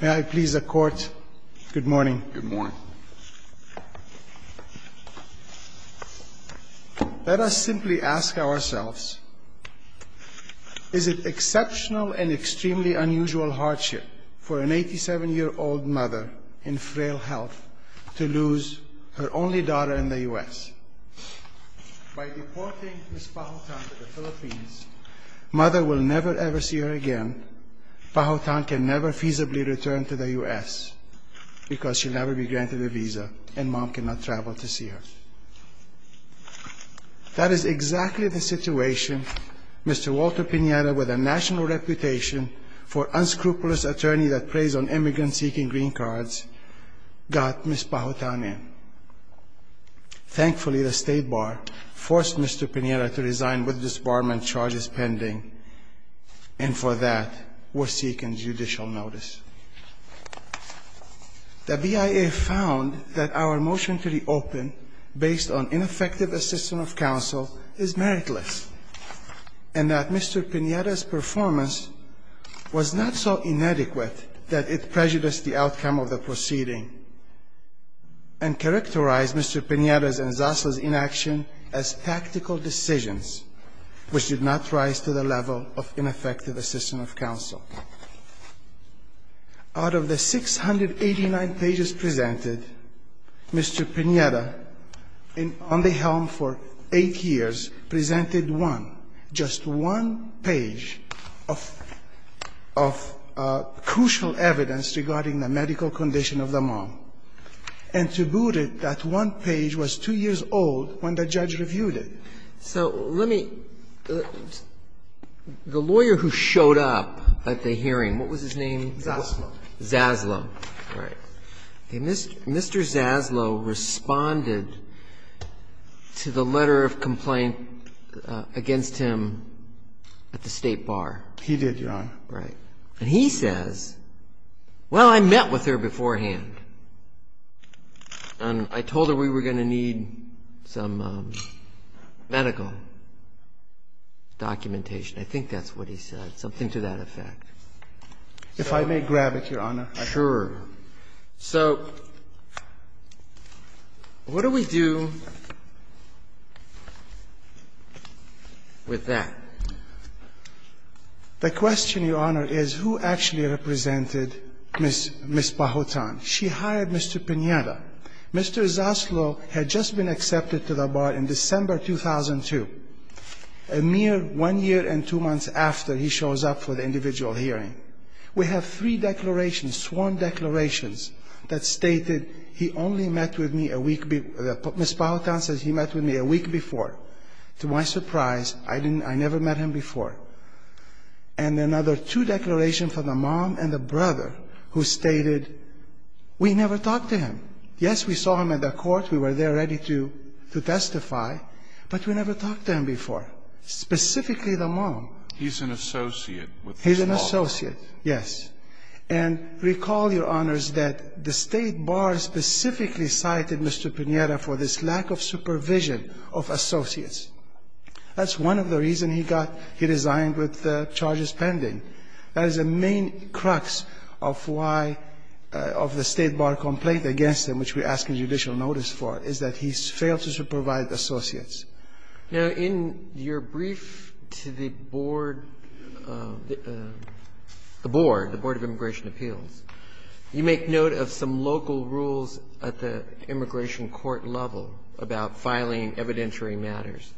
May I please the court? Good morning. Let us simply ask ourselves, is it exceptional and extremely unusual hardship for an 87-year-old mother in frail health to lose her only daughter in the U.S.? By deporting Ms. Pahutan to the Philippines, mother will never ever see her again. Pahutan can never feasibly return to the U.S. because she'll never be granted a visa and mom cannot travel to see her. That is exactly the situation Mr. Walter Pinera, with a national reputation for unscrupulous attorney that preys on immigrants seeking green cards, got Ms. Pahutan in. Thankfully, the State Bar forced Mr. Pinera to resign with disbarment charges pending and for that were seeking judicial notice. The BIA found that our motion to reopen based on ineffective assistance of counsel is meritless and that Mr. Pinera's performance was not so inadequate that it prejudiced the outcome of the proceeding and characterized Mr. Pinera's and Zasa's inaction as tactical decisions which did not rise to the level of ineffective assistance of counsel. Out of the 689 pages presented, Mr. Pinera, on the helm for 8 years, presented one, just one page of crucial evidence regarding the medical condition of the mom. And to boot it, that one page was 2 years old when the judge reviewed it. So let me, the lawyer who showed up at the hearing, what was his name? Zaslow, right. Mr. Zaslow responded to the letter of complaint against him at the State Bar. He did, Your Honor. Right. And he says, well, I met with her beforehand and I told her we were going to need some medical documentation. I think that's what he said, something to that effect. If I may grab it, Your Honor. Sure. So what do we do with that? The question, Your Honor, is who actually represented Ms. Pahotan? She hired Mr. Pinera. Mr. Zaslow had just been accepted to the Bar in December 2002, a mere 1 year and 2 months after he shows up for the individual hearing. We have three declarations, sworn declarations, that stated he only met with me a week before. Ms. Pahotan says he met with me a week before. To my surprise, I never met him before. And another two declarations from the mom and the brother who stated we never talked to him. Yes, we saw him at the court. We were there ready to testify, but we never talked to him before, specifically He's an associate with Ms. Pahotan. He's an associate, yes. And recall, Your Honors, that the State Bar specifically cited Mr. Pinera for this lack of supervision of associates. That's one of the reasons he got he resigned with charges pending. That is the main crux of why of the State Bar complaint against him, which we're asking judicial notice for, is that he failed to supervise associates. Now, in your brief to the board, the board, the Board of Immigration Appeals, you make note of some local rules at the immigration court level about filing evidentiary matters.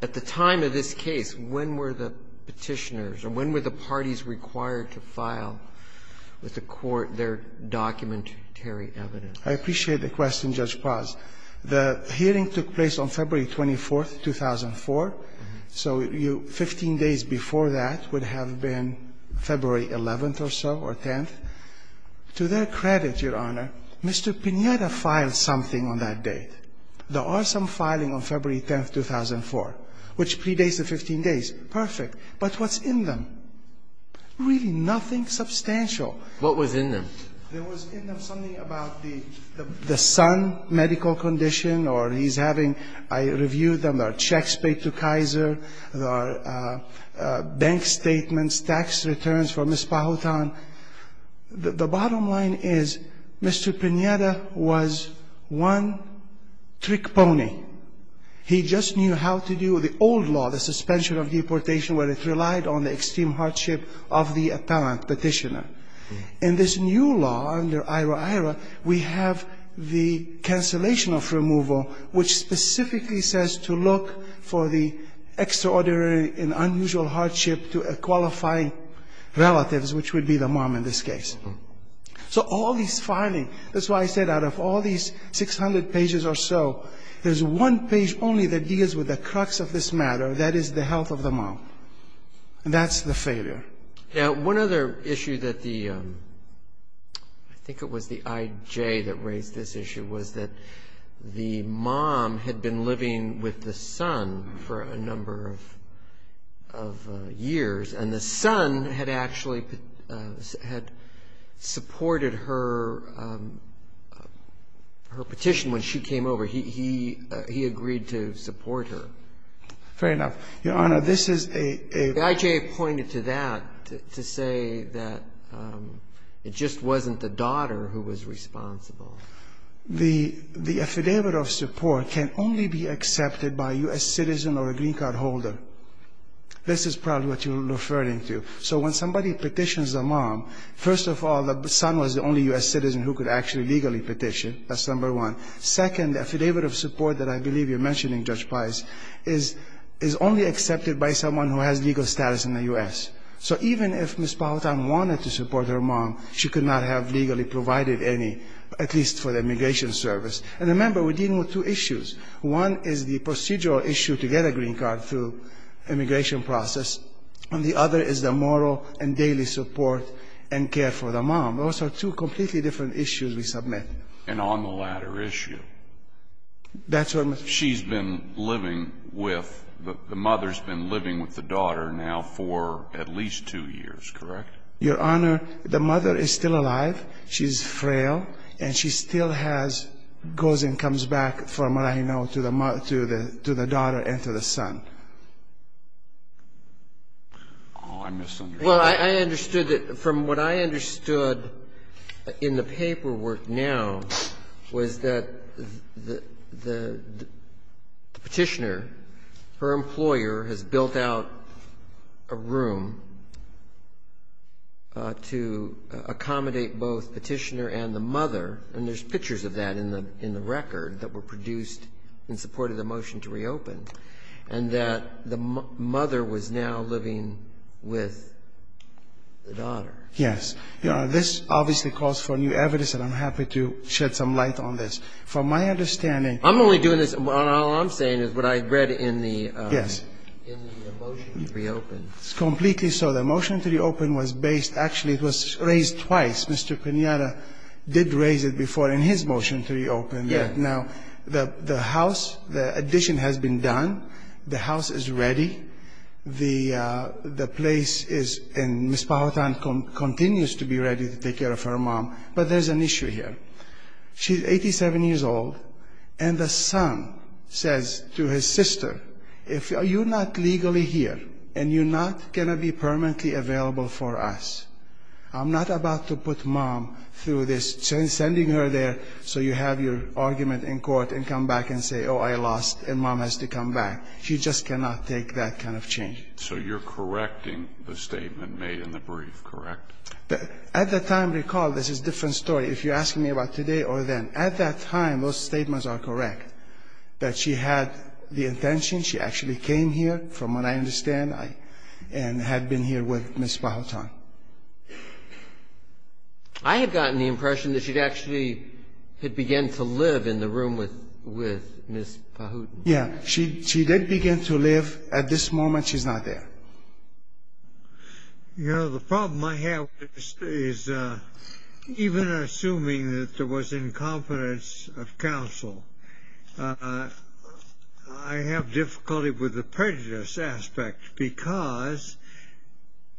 At the time of this case, when were the Petitioners or when were the parties required to file with the court their documentary evidence? I appreciate the question, Judge Paz. The hearing took place on February 24th, 2004, so you 15 days before that would have been February 11th or so, or 10th. To their credit, Your Honor, Mr. Pinera filed something on that date. There are some filing on February 10th, 2004, which predates the 15 days. Perfect. But what's in them? Really nothing substantial. What was in them? There was in them something about the son medical condition or he's having – I reviewed them, there are checks paid to Kaiser, there are bank statements, tax returns for Ms. Pajotan. The bottom line is, Mr. Pinera was one trick pony. He just knew how to do the old law, the suspension of deportation, where it relied on the extreme hardship of the appellant, Petitioner. In this new law, under IHRA-IHRA, we have the cancellation of removal, which specifically says to look for the extraordinary and unusual hardship to qualify relatives, which would be the mom in this case. So all these filing, that's why I said out of all these 600 pages or so, there's one page only that deals with the crux of this matter, that is the health of the mom. That's the failure. One other issue that the, I think it was the IJ that raised this issue, was that the mom had been living with the son for a number of years, and the son had actually, had supported her petition when she came over. He agreed to support her. Fair enough. Your Honor, this is a – The IJ pointed to that, to say that it just wasn't the daughter who was responsible. The affidavit of support can only be accepted by a U.S. citizen or a green card holder. This is probably what you're referring to. So when somebody petitions a mom, first of all, the son was the only U.S. citizen who could actually legally petition, that's number one. Second, the affidavit of support that I believe you're mentioning, Judge Pice, is only accepted by someone who has legal status in the U.S. So even if Ms. Powhatan wanted to support her mom, she could not have legally provided any, at least for the immigration service. And remember, we're dealing with two issues. One is the procedural issue to get a green card through immigration process, and the other is the moral and daily support and care for the mom. Those are two completely different issues we submit. And on the latter issue, she's been living with – the mother's been living with the daughter now for at least two years, correct? Your Honor, the mother is still alive. She's frail, and she still has – goes and comes back, from what I know, to the – to the daughter and to the son. Oh, I misunderstood. Well, I understood that – from what I understood in the paperwork now was that the petitioner, her employer has built out a room to accommodate both petitioner and the mother, and there's pictures of that in the record that were produced in support of the motion to reopen, and that the mother was now living with the daughter. Yes. This obviously calls for new evidence, and I'm happy to shed some light on this. From my understanding – I'm only doing this – all I'm saying is what I read in the – Yes. In the motion to reopen. It's completely so. The motion to reopen was based – actually, it was raised twice. Mr. Pinata did raise it before in his motion to reopen. Yes. Now, the house, the addition has been done. The house is ready. The place is – and Ms. Powhatan continues to be ready to take care of her mom. But there's an issue here. She's 87 years old, and the son says to his sister, if you're not legally here, and you're not going to be permanently available for us, I'm not about to put mom through this – sending her there so you have your argument in court and come back and say, oh, I lost, and mom has to come back. She just cannot take that kind of change. So you're correcting the statement made in the brief, correct? At the time, recall, this is a different story. If you're asking me about today or then, at that time, those statements are correct that she had the intention. She actually came here, from what I understand, and had been here with Ms. Powhatan. I had gotten the impression that she'd actually – had begun to live in the room with Ms. Powhatan. Yeah. She did begin to live. At this moment, she's not there. You know, the problem I have is, even assuming that there was incompetence of counsel, I have difficulty with the prejudice aspect, because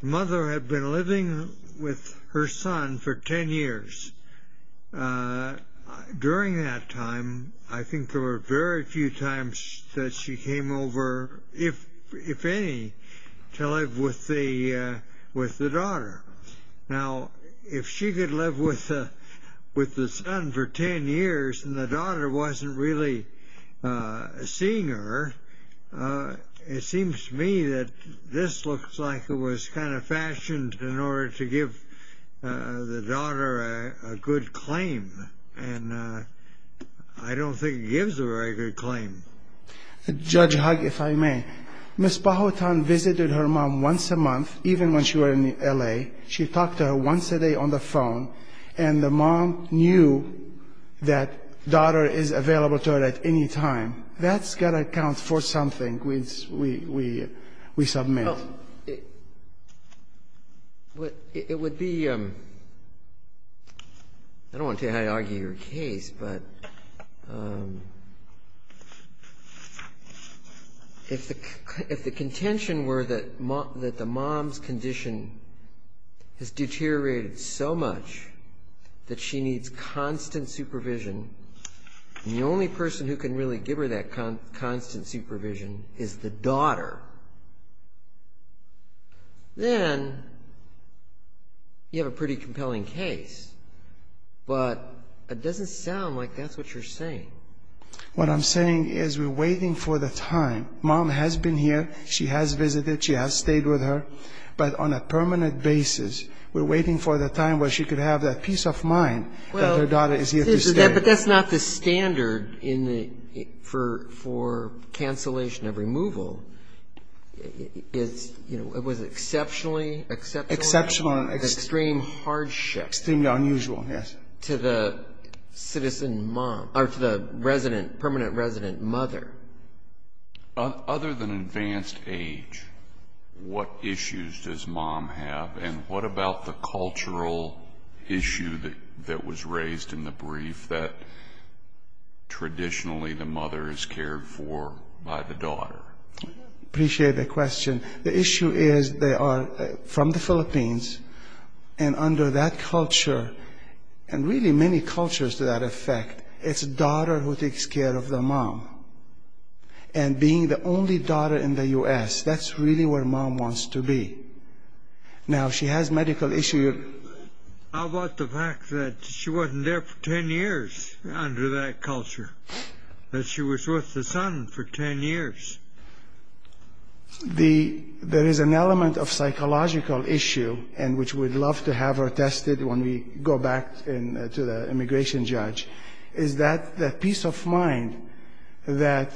the mother had been living with her son for 10 years. During that time, I think there were very few times that she came over, if any, to live with the daughter. Now, if she could live with the son for 10 years and the daughter wasn't really seeing her, it seems to me that this looks like it was kind of fashioned in order to give the daughter a good claim. And I don't think it gives a very good claim. Judge Hugg, if I may, Ms. Powhatan visited her mom once a month, even when she was in L.A. She talked to her once a day on the phone, and the mom knew that daughter is available to her at any time. That's got to account for something we submit. Well, it would be – I don't want to tell you how to argue your case, but if the contention were that the mom's condition has deteriorated so much that she needs constant supervision, and the only person who can really give her that constant supervision is the daughter, then you have a pretty compelling case. But it doesn't sound like that's what you're saying. What I'm saying is we're waiting for the time. Mom has been here. She has visited. She has stayed with her. But on a permanent basis, we're waiting for the time where she could have that peace of mind that her daughter is here to stay. But that's not the standard for cancellation of removal. It's – it was exceptionally – Exceptional. Extreme hardship. Extremely unusual, yes. To the citizen mom – or to the resident – permanent resident mother. Other than advanced age, what issues does mom have, and what about the cultural issue that was raised in the brief that traditionally the mother is cared for by the daughter? I appreciate the question. The issue is they are from the Philippines, and under that culture, and really many cultures to that effect, it's daughter who takes care of the mom. And being the only daughter in the U.S., that's really where mom wants to be. Now, she has medical issue. How about the fact that she wasn't there for 10 years under that culture? That she was with the son for 10 years? The – there is an element of psychological issue, and which we'd love to have her tested when we go back to the immigration judge, is that peace of mind, that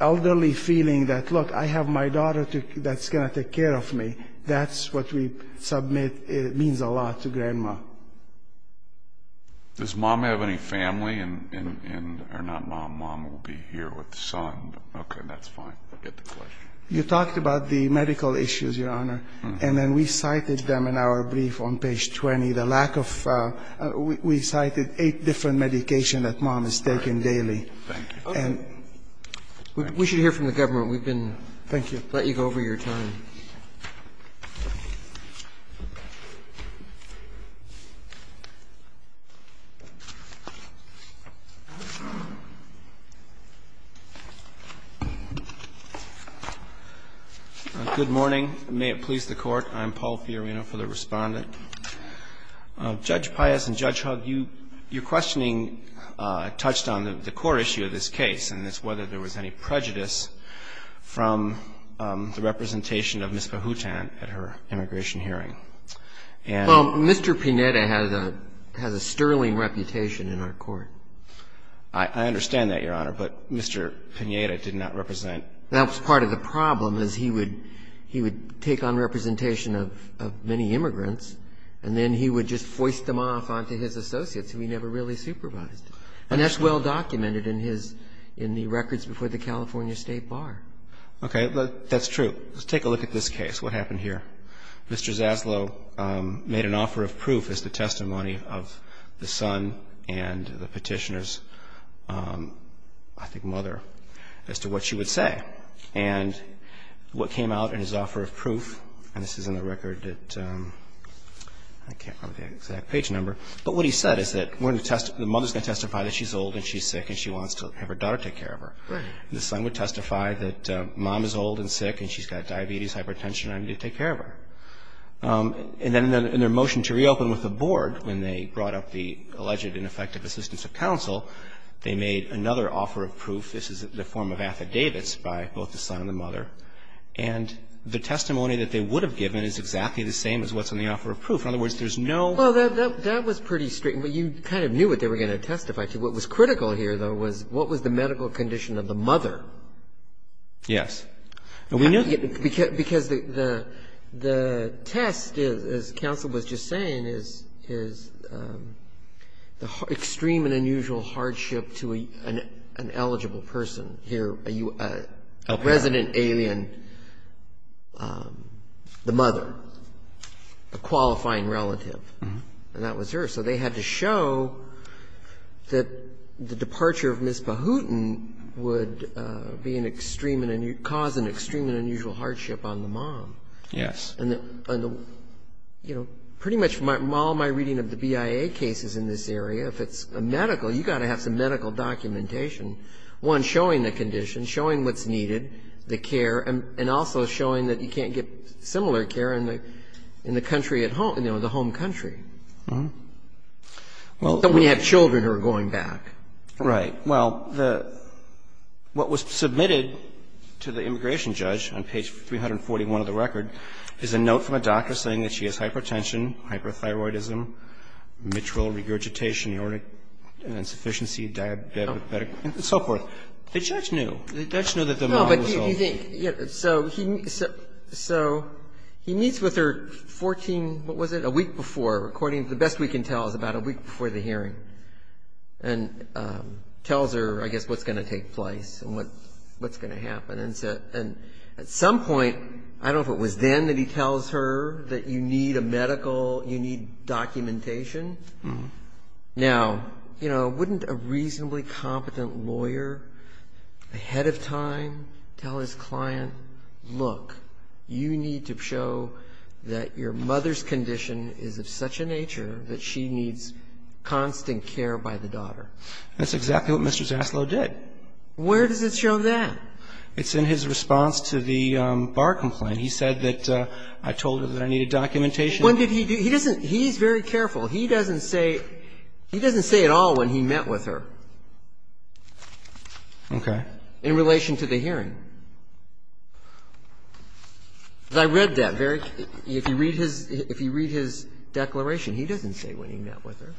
elderly feeling that, look, I have my daughter that's going to take care of me. That's what we submit means a lot to grandma. Does mom have any family in – or not mom? Mom will be here with the son. Okay, that's fine. I get the question. You talked about the medical issues, Your Honor. And then we cited them in our brief on page 20. The lack of – we cited eight different medications that mom is taking daily. Thank you. And – We should hear from the government. We've been – Thank you. Let you go over your time. Good morning. May it please the Court. I'm Paul Fiorina for the Respondent. Judge Pius and Judge Hugg, you – your questioning touched on the core issue of this case, and it's whether there was any prejudice from the representation of Ms. Pahoutan at her immigration hearing. And – Well, Mr. Pineda has a – has a sterling reputation in our court. I understand that, Your Honor. But Mr. Pineda did not represent – That was part of the problem, is he would – he would take on representation of many immigrants, and then he would just foist them off onto his associates, who he never really supervised. And that's well documented in his – in the records before the California State Bar. Okay. That's true. Let's take a look at this case. What happened here? Mr. Zaslow made an offer of proof as the testimony of the son and the petitioner's, I think, mother, as to what she would say. And what came out in his offer of proof – and this is in the record that – I can't remember the exact page number. But what he said is that we're going to – the mother's going to testify that she's old and she's sick and she wants to have her daughter take care of her. Right. And the son would testify that mom is old and sick and she's got diabetes, hypertension, and I need to take care of her. And then in their motion to reopen with the board, when they brought up the alleged ineffective assistance of counsel, they made another offer of proof. This is the form of affidavits by both the son and the mother. And the testimony that they would have given is exactly the same as what's in the offer of proof. In other words, there's no – Well, that was pretty – you kind of knew what they were going to testify to. What was critical here, though, was what was the medical condition of the mother. Yes. Because the test, as counsel was just saying, is extreme and unusual hardship to an eligible person. Here, a resident alien, the mother, a qualifying relative. And that was her. So they had to show that the departure of Ms. Bahutin would be an extreme and – cause an extreme and unusual hardship on the mom. Yes. And, you know, pretty much from all my reading of the BIA cases in this area, if it's a medical, you've got to have some medical documentation. One, showing the condition, showing what's needed, the care, and also showing that you can't get similar care in the country at home, you know, the home country. When you have children who are going back. Right. Well, what was submitted to the immigration judge on page 341 of the record is a note from a doctor saying that she has hypertension, hyperthyroidism, mitral regurgitation, aortic insufficiency, diabetic – and so forth. The judge knew. The judge knew that the mom was ill. No, but do you think – so he meets with her 14 – what was it? A week before. According to the best we can tell, it was about a week before the hearing. And tells her, I guess, what's going to take place and what's going to happen. And at some point – I don't know if it was then that he tells her that you need a medical, you need documentation. Now, you know, wouldn't a reasonably competent lawyer ahead of time tell his client, look, you need to show that your mother's condition is of such a nature that she needs constant care by the daughter? That's exactly what Mr. Zaslow did. Where does it show that? It's in his response to the bar complaint. He said that I told her that I needed documentation. When did he do – he doesn't – he's very careful. He doesn't say – he doesn't say at all when he met with her. Okay. In relation to the hearing. I read that very – if you read his – if you read his declaration, he doesn't say when he met with her.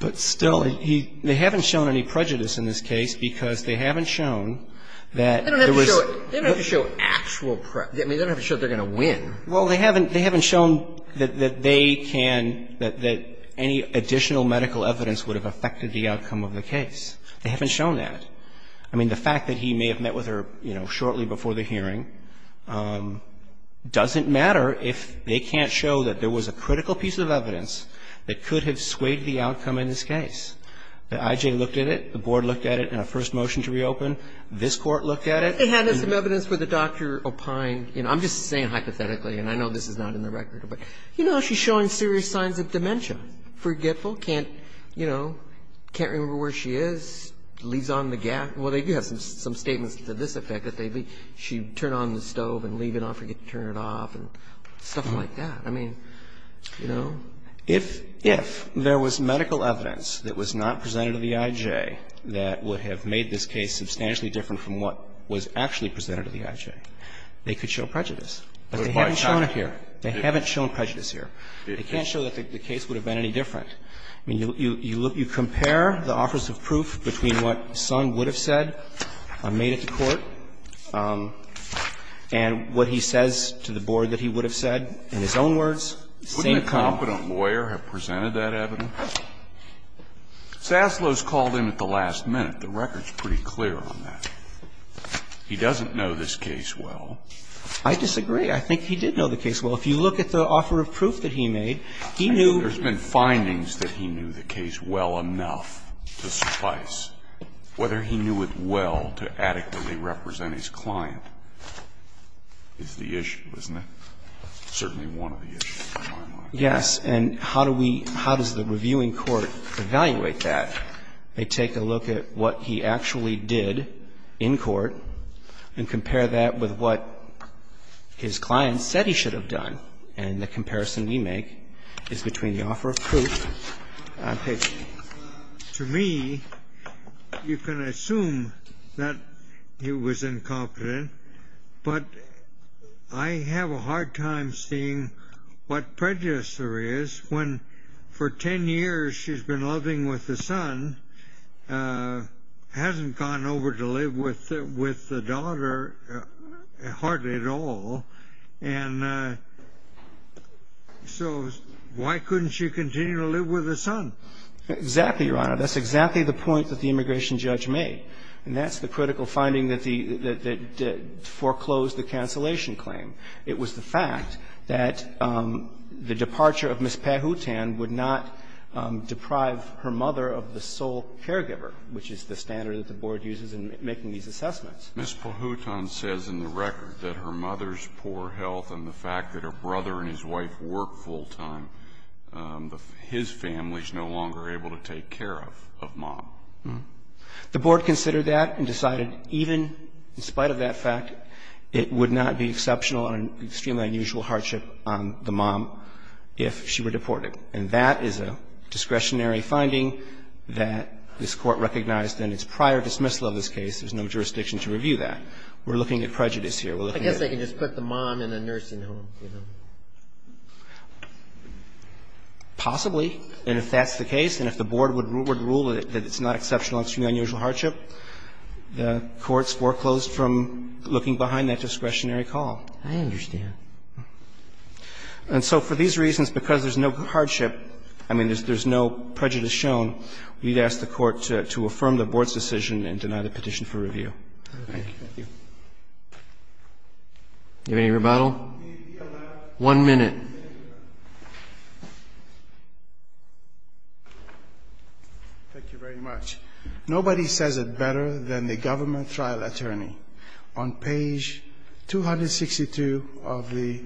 But still, he – they haven't shown any prejudice in this case because they haven't shown that there was – They don't have to show actual – I mean, they don't have to show they're going to win. Well, they haven't – they haven't shown that they can – that any additional medical evidence would have affected the outcome of the case. They haven't shown that. I mean, the fact that he may have met with her, you know, shortly before the hearing doesn't matter if they can't show that there was a critical piece of evidence that could have swayed the outcome in this case. The I.J. looked at it. The Board looked at it in a first motion to reopen. This Court looked at it. I think they had some evidence for the Dr. Opine. You know, I'm just saying hypothetically, and I know this is not in the record, but, you know, she's showing serious signs of dementia, forgetful, can't, you know, can't remember where she is, leaves on the gas – well, they do have some statements to this effect that they – she'd turn on the stove and leave it on, forget to turn it off and stuff like that. I mean, you know. If there was medical evidence that was not presented to the I.J. that would have made this case substantially different from what was actually presented to the I.J., they could show prejudice, but they haven't shown it here. They haven't shown prejudice here. They can't show that the case would have been any different. I mean, you look – you compare the offers of proof between what Son would have said or made at the court and what he says to the Board that he would have said in his own words, same comment. Scalia, couldn't a competent lawyer have presented that evidence? No. Sasselo's called in at the last minute. The record's pretty clear on that. He doesn't know this case well. I disagree. I think he did know the case well. If you look at the offer of proof that he made, he knew – There's been findings that he knew the case well enough to suffice. Whether he knew it well to adequately represent his client is the issue, isn't it? Certainly one of the issues, in my mind. Yes. And how do we – how does the reviewing court evaluate that? They take a look at what he actually did in court and compare that with what his client said he should have done. And the comparison we make is between the offer of proof and paper. To me, you can assume that he was incompetent, but I have a hard time seeing what the prejudice there is when for 10 years she's been living with the son, hasn't gone over to live with the daughter hardly at all. And so why couldn't she continue to live with the son? Exactly, Your Honor. That's exactly the point that the immigration judge made. And that's the critical finding that foreclosed the cancellation claim. It was the fact that the departure of Ms. Pahoutan would not deprive her mother of the sole caregiver, which is the standard that the Board uses in making these assessments. Ms. Pahoutan says in the record that her mother's poor health and the fact that her brother and his wife work full time, his family's no longer able to take care of mom. The Board considered that and decided even in spite of that fact, it would not be exceptional and extremely unusual hardship on the mom if she were deported. And that is a discretionary finding that this Court recognized in its prior dismissal of this case. There's no jurisdiction to review that. We're looking at prejudice here. We're looking at prejudice. I guess they can just put the mom in a nursing home, you know. Possibly. And if that's the case, and if the Board would rule that it's not exceptional and extremely unusual hardship, the Court's foreclosed from looking behind that discretionary call. I understand. And so for these reasons, because there's no hardship, I mean, there's no prejudice shown, we'd ask the Court to affirm the Board's decision and deny the petition for review. Thank you. Do you have any rebuttal? One minute. Thank you very much. Nobody says it better than the government trial attorney. On page 262 of the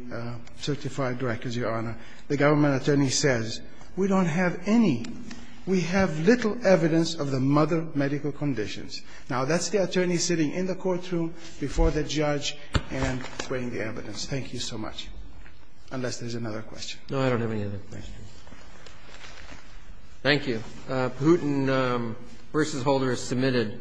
certified records, Your Honor, the government attorney says, we don't have any. We have little evidence of the mother medical conditions. Now, that's the attorney sitting in the courtroom before the judge and weighing the evidence. Thank you so much. Unless there's another question. No, I don't have any other questions. Thank you. Putin versus Holder is submitted.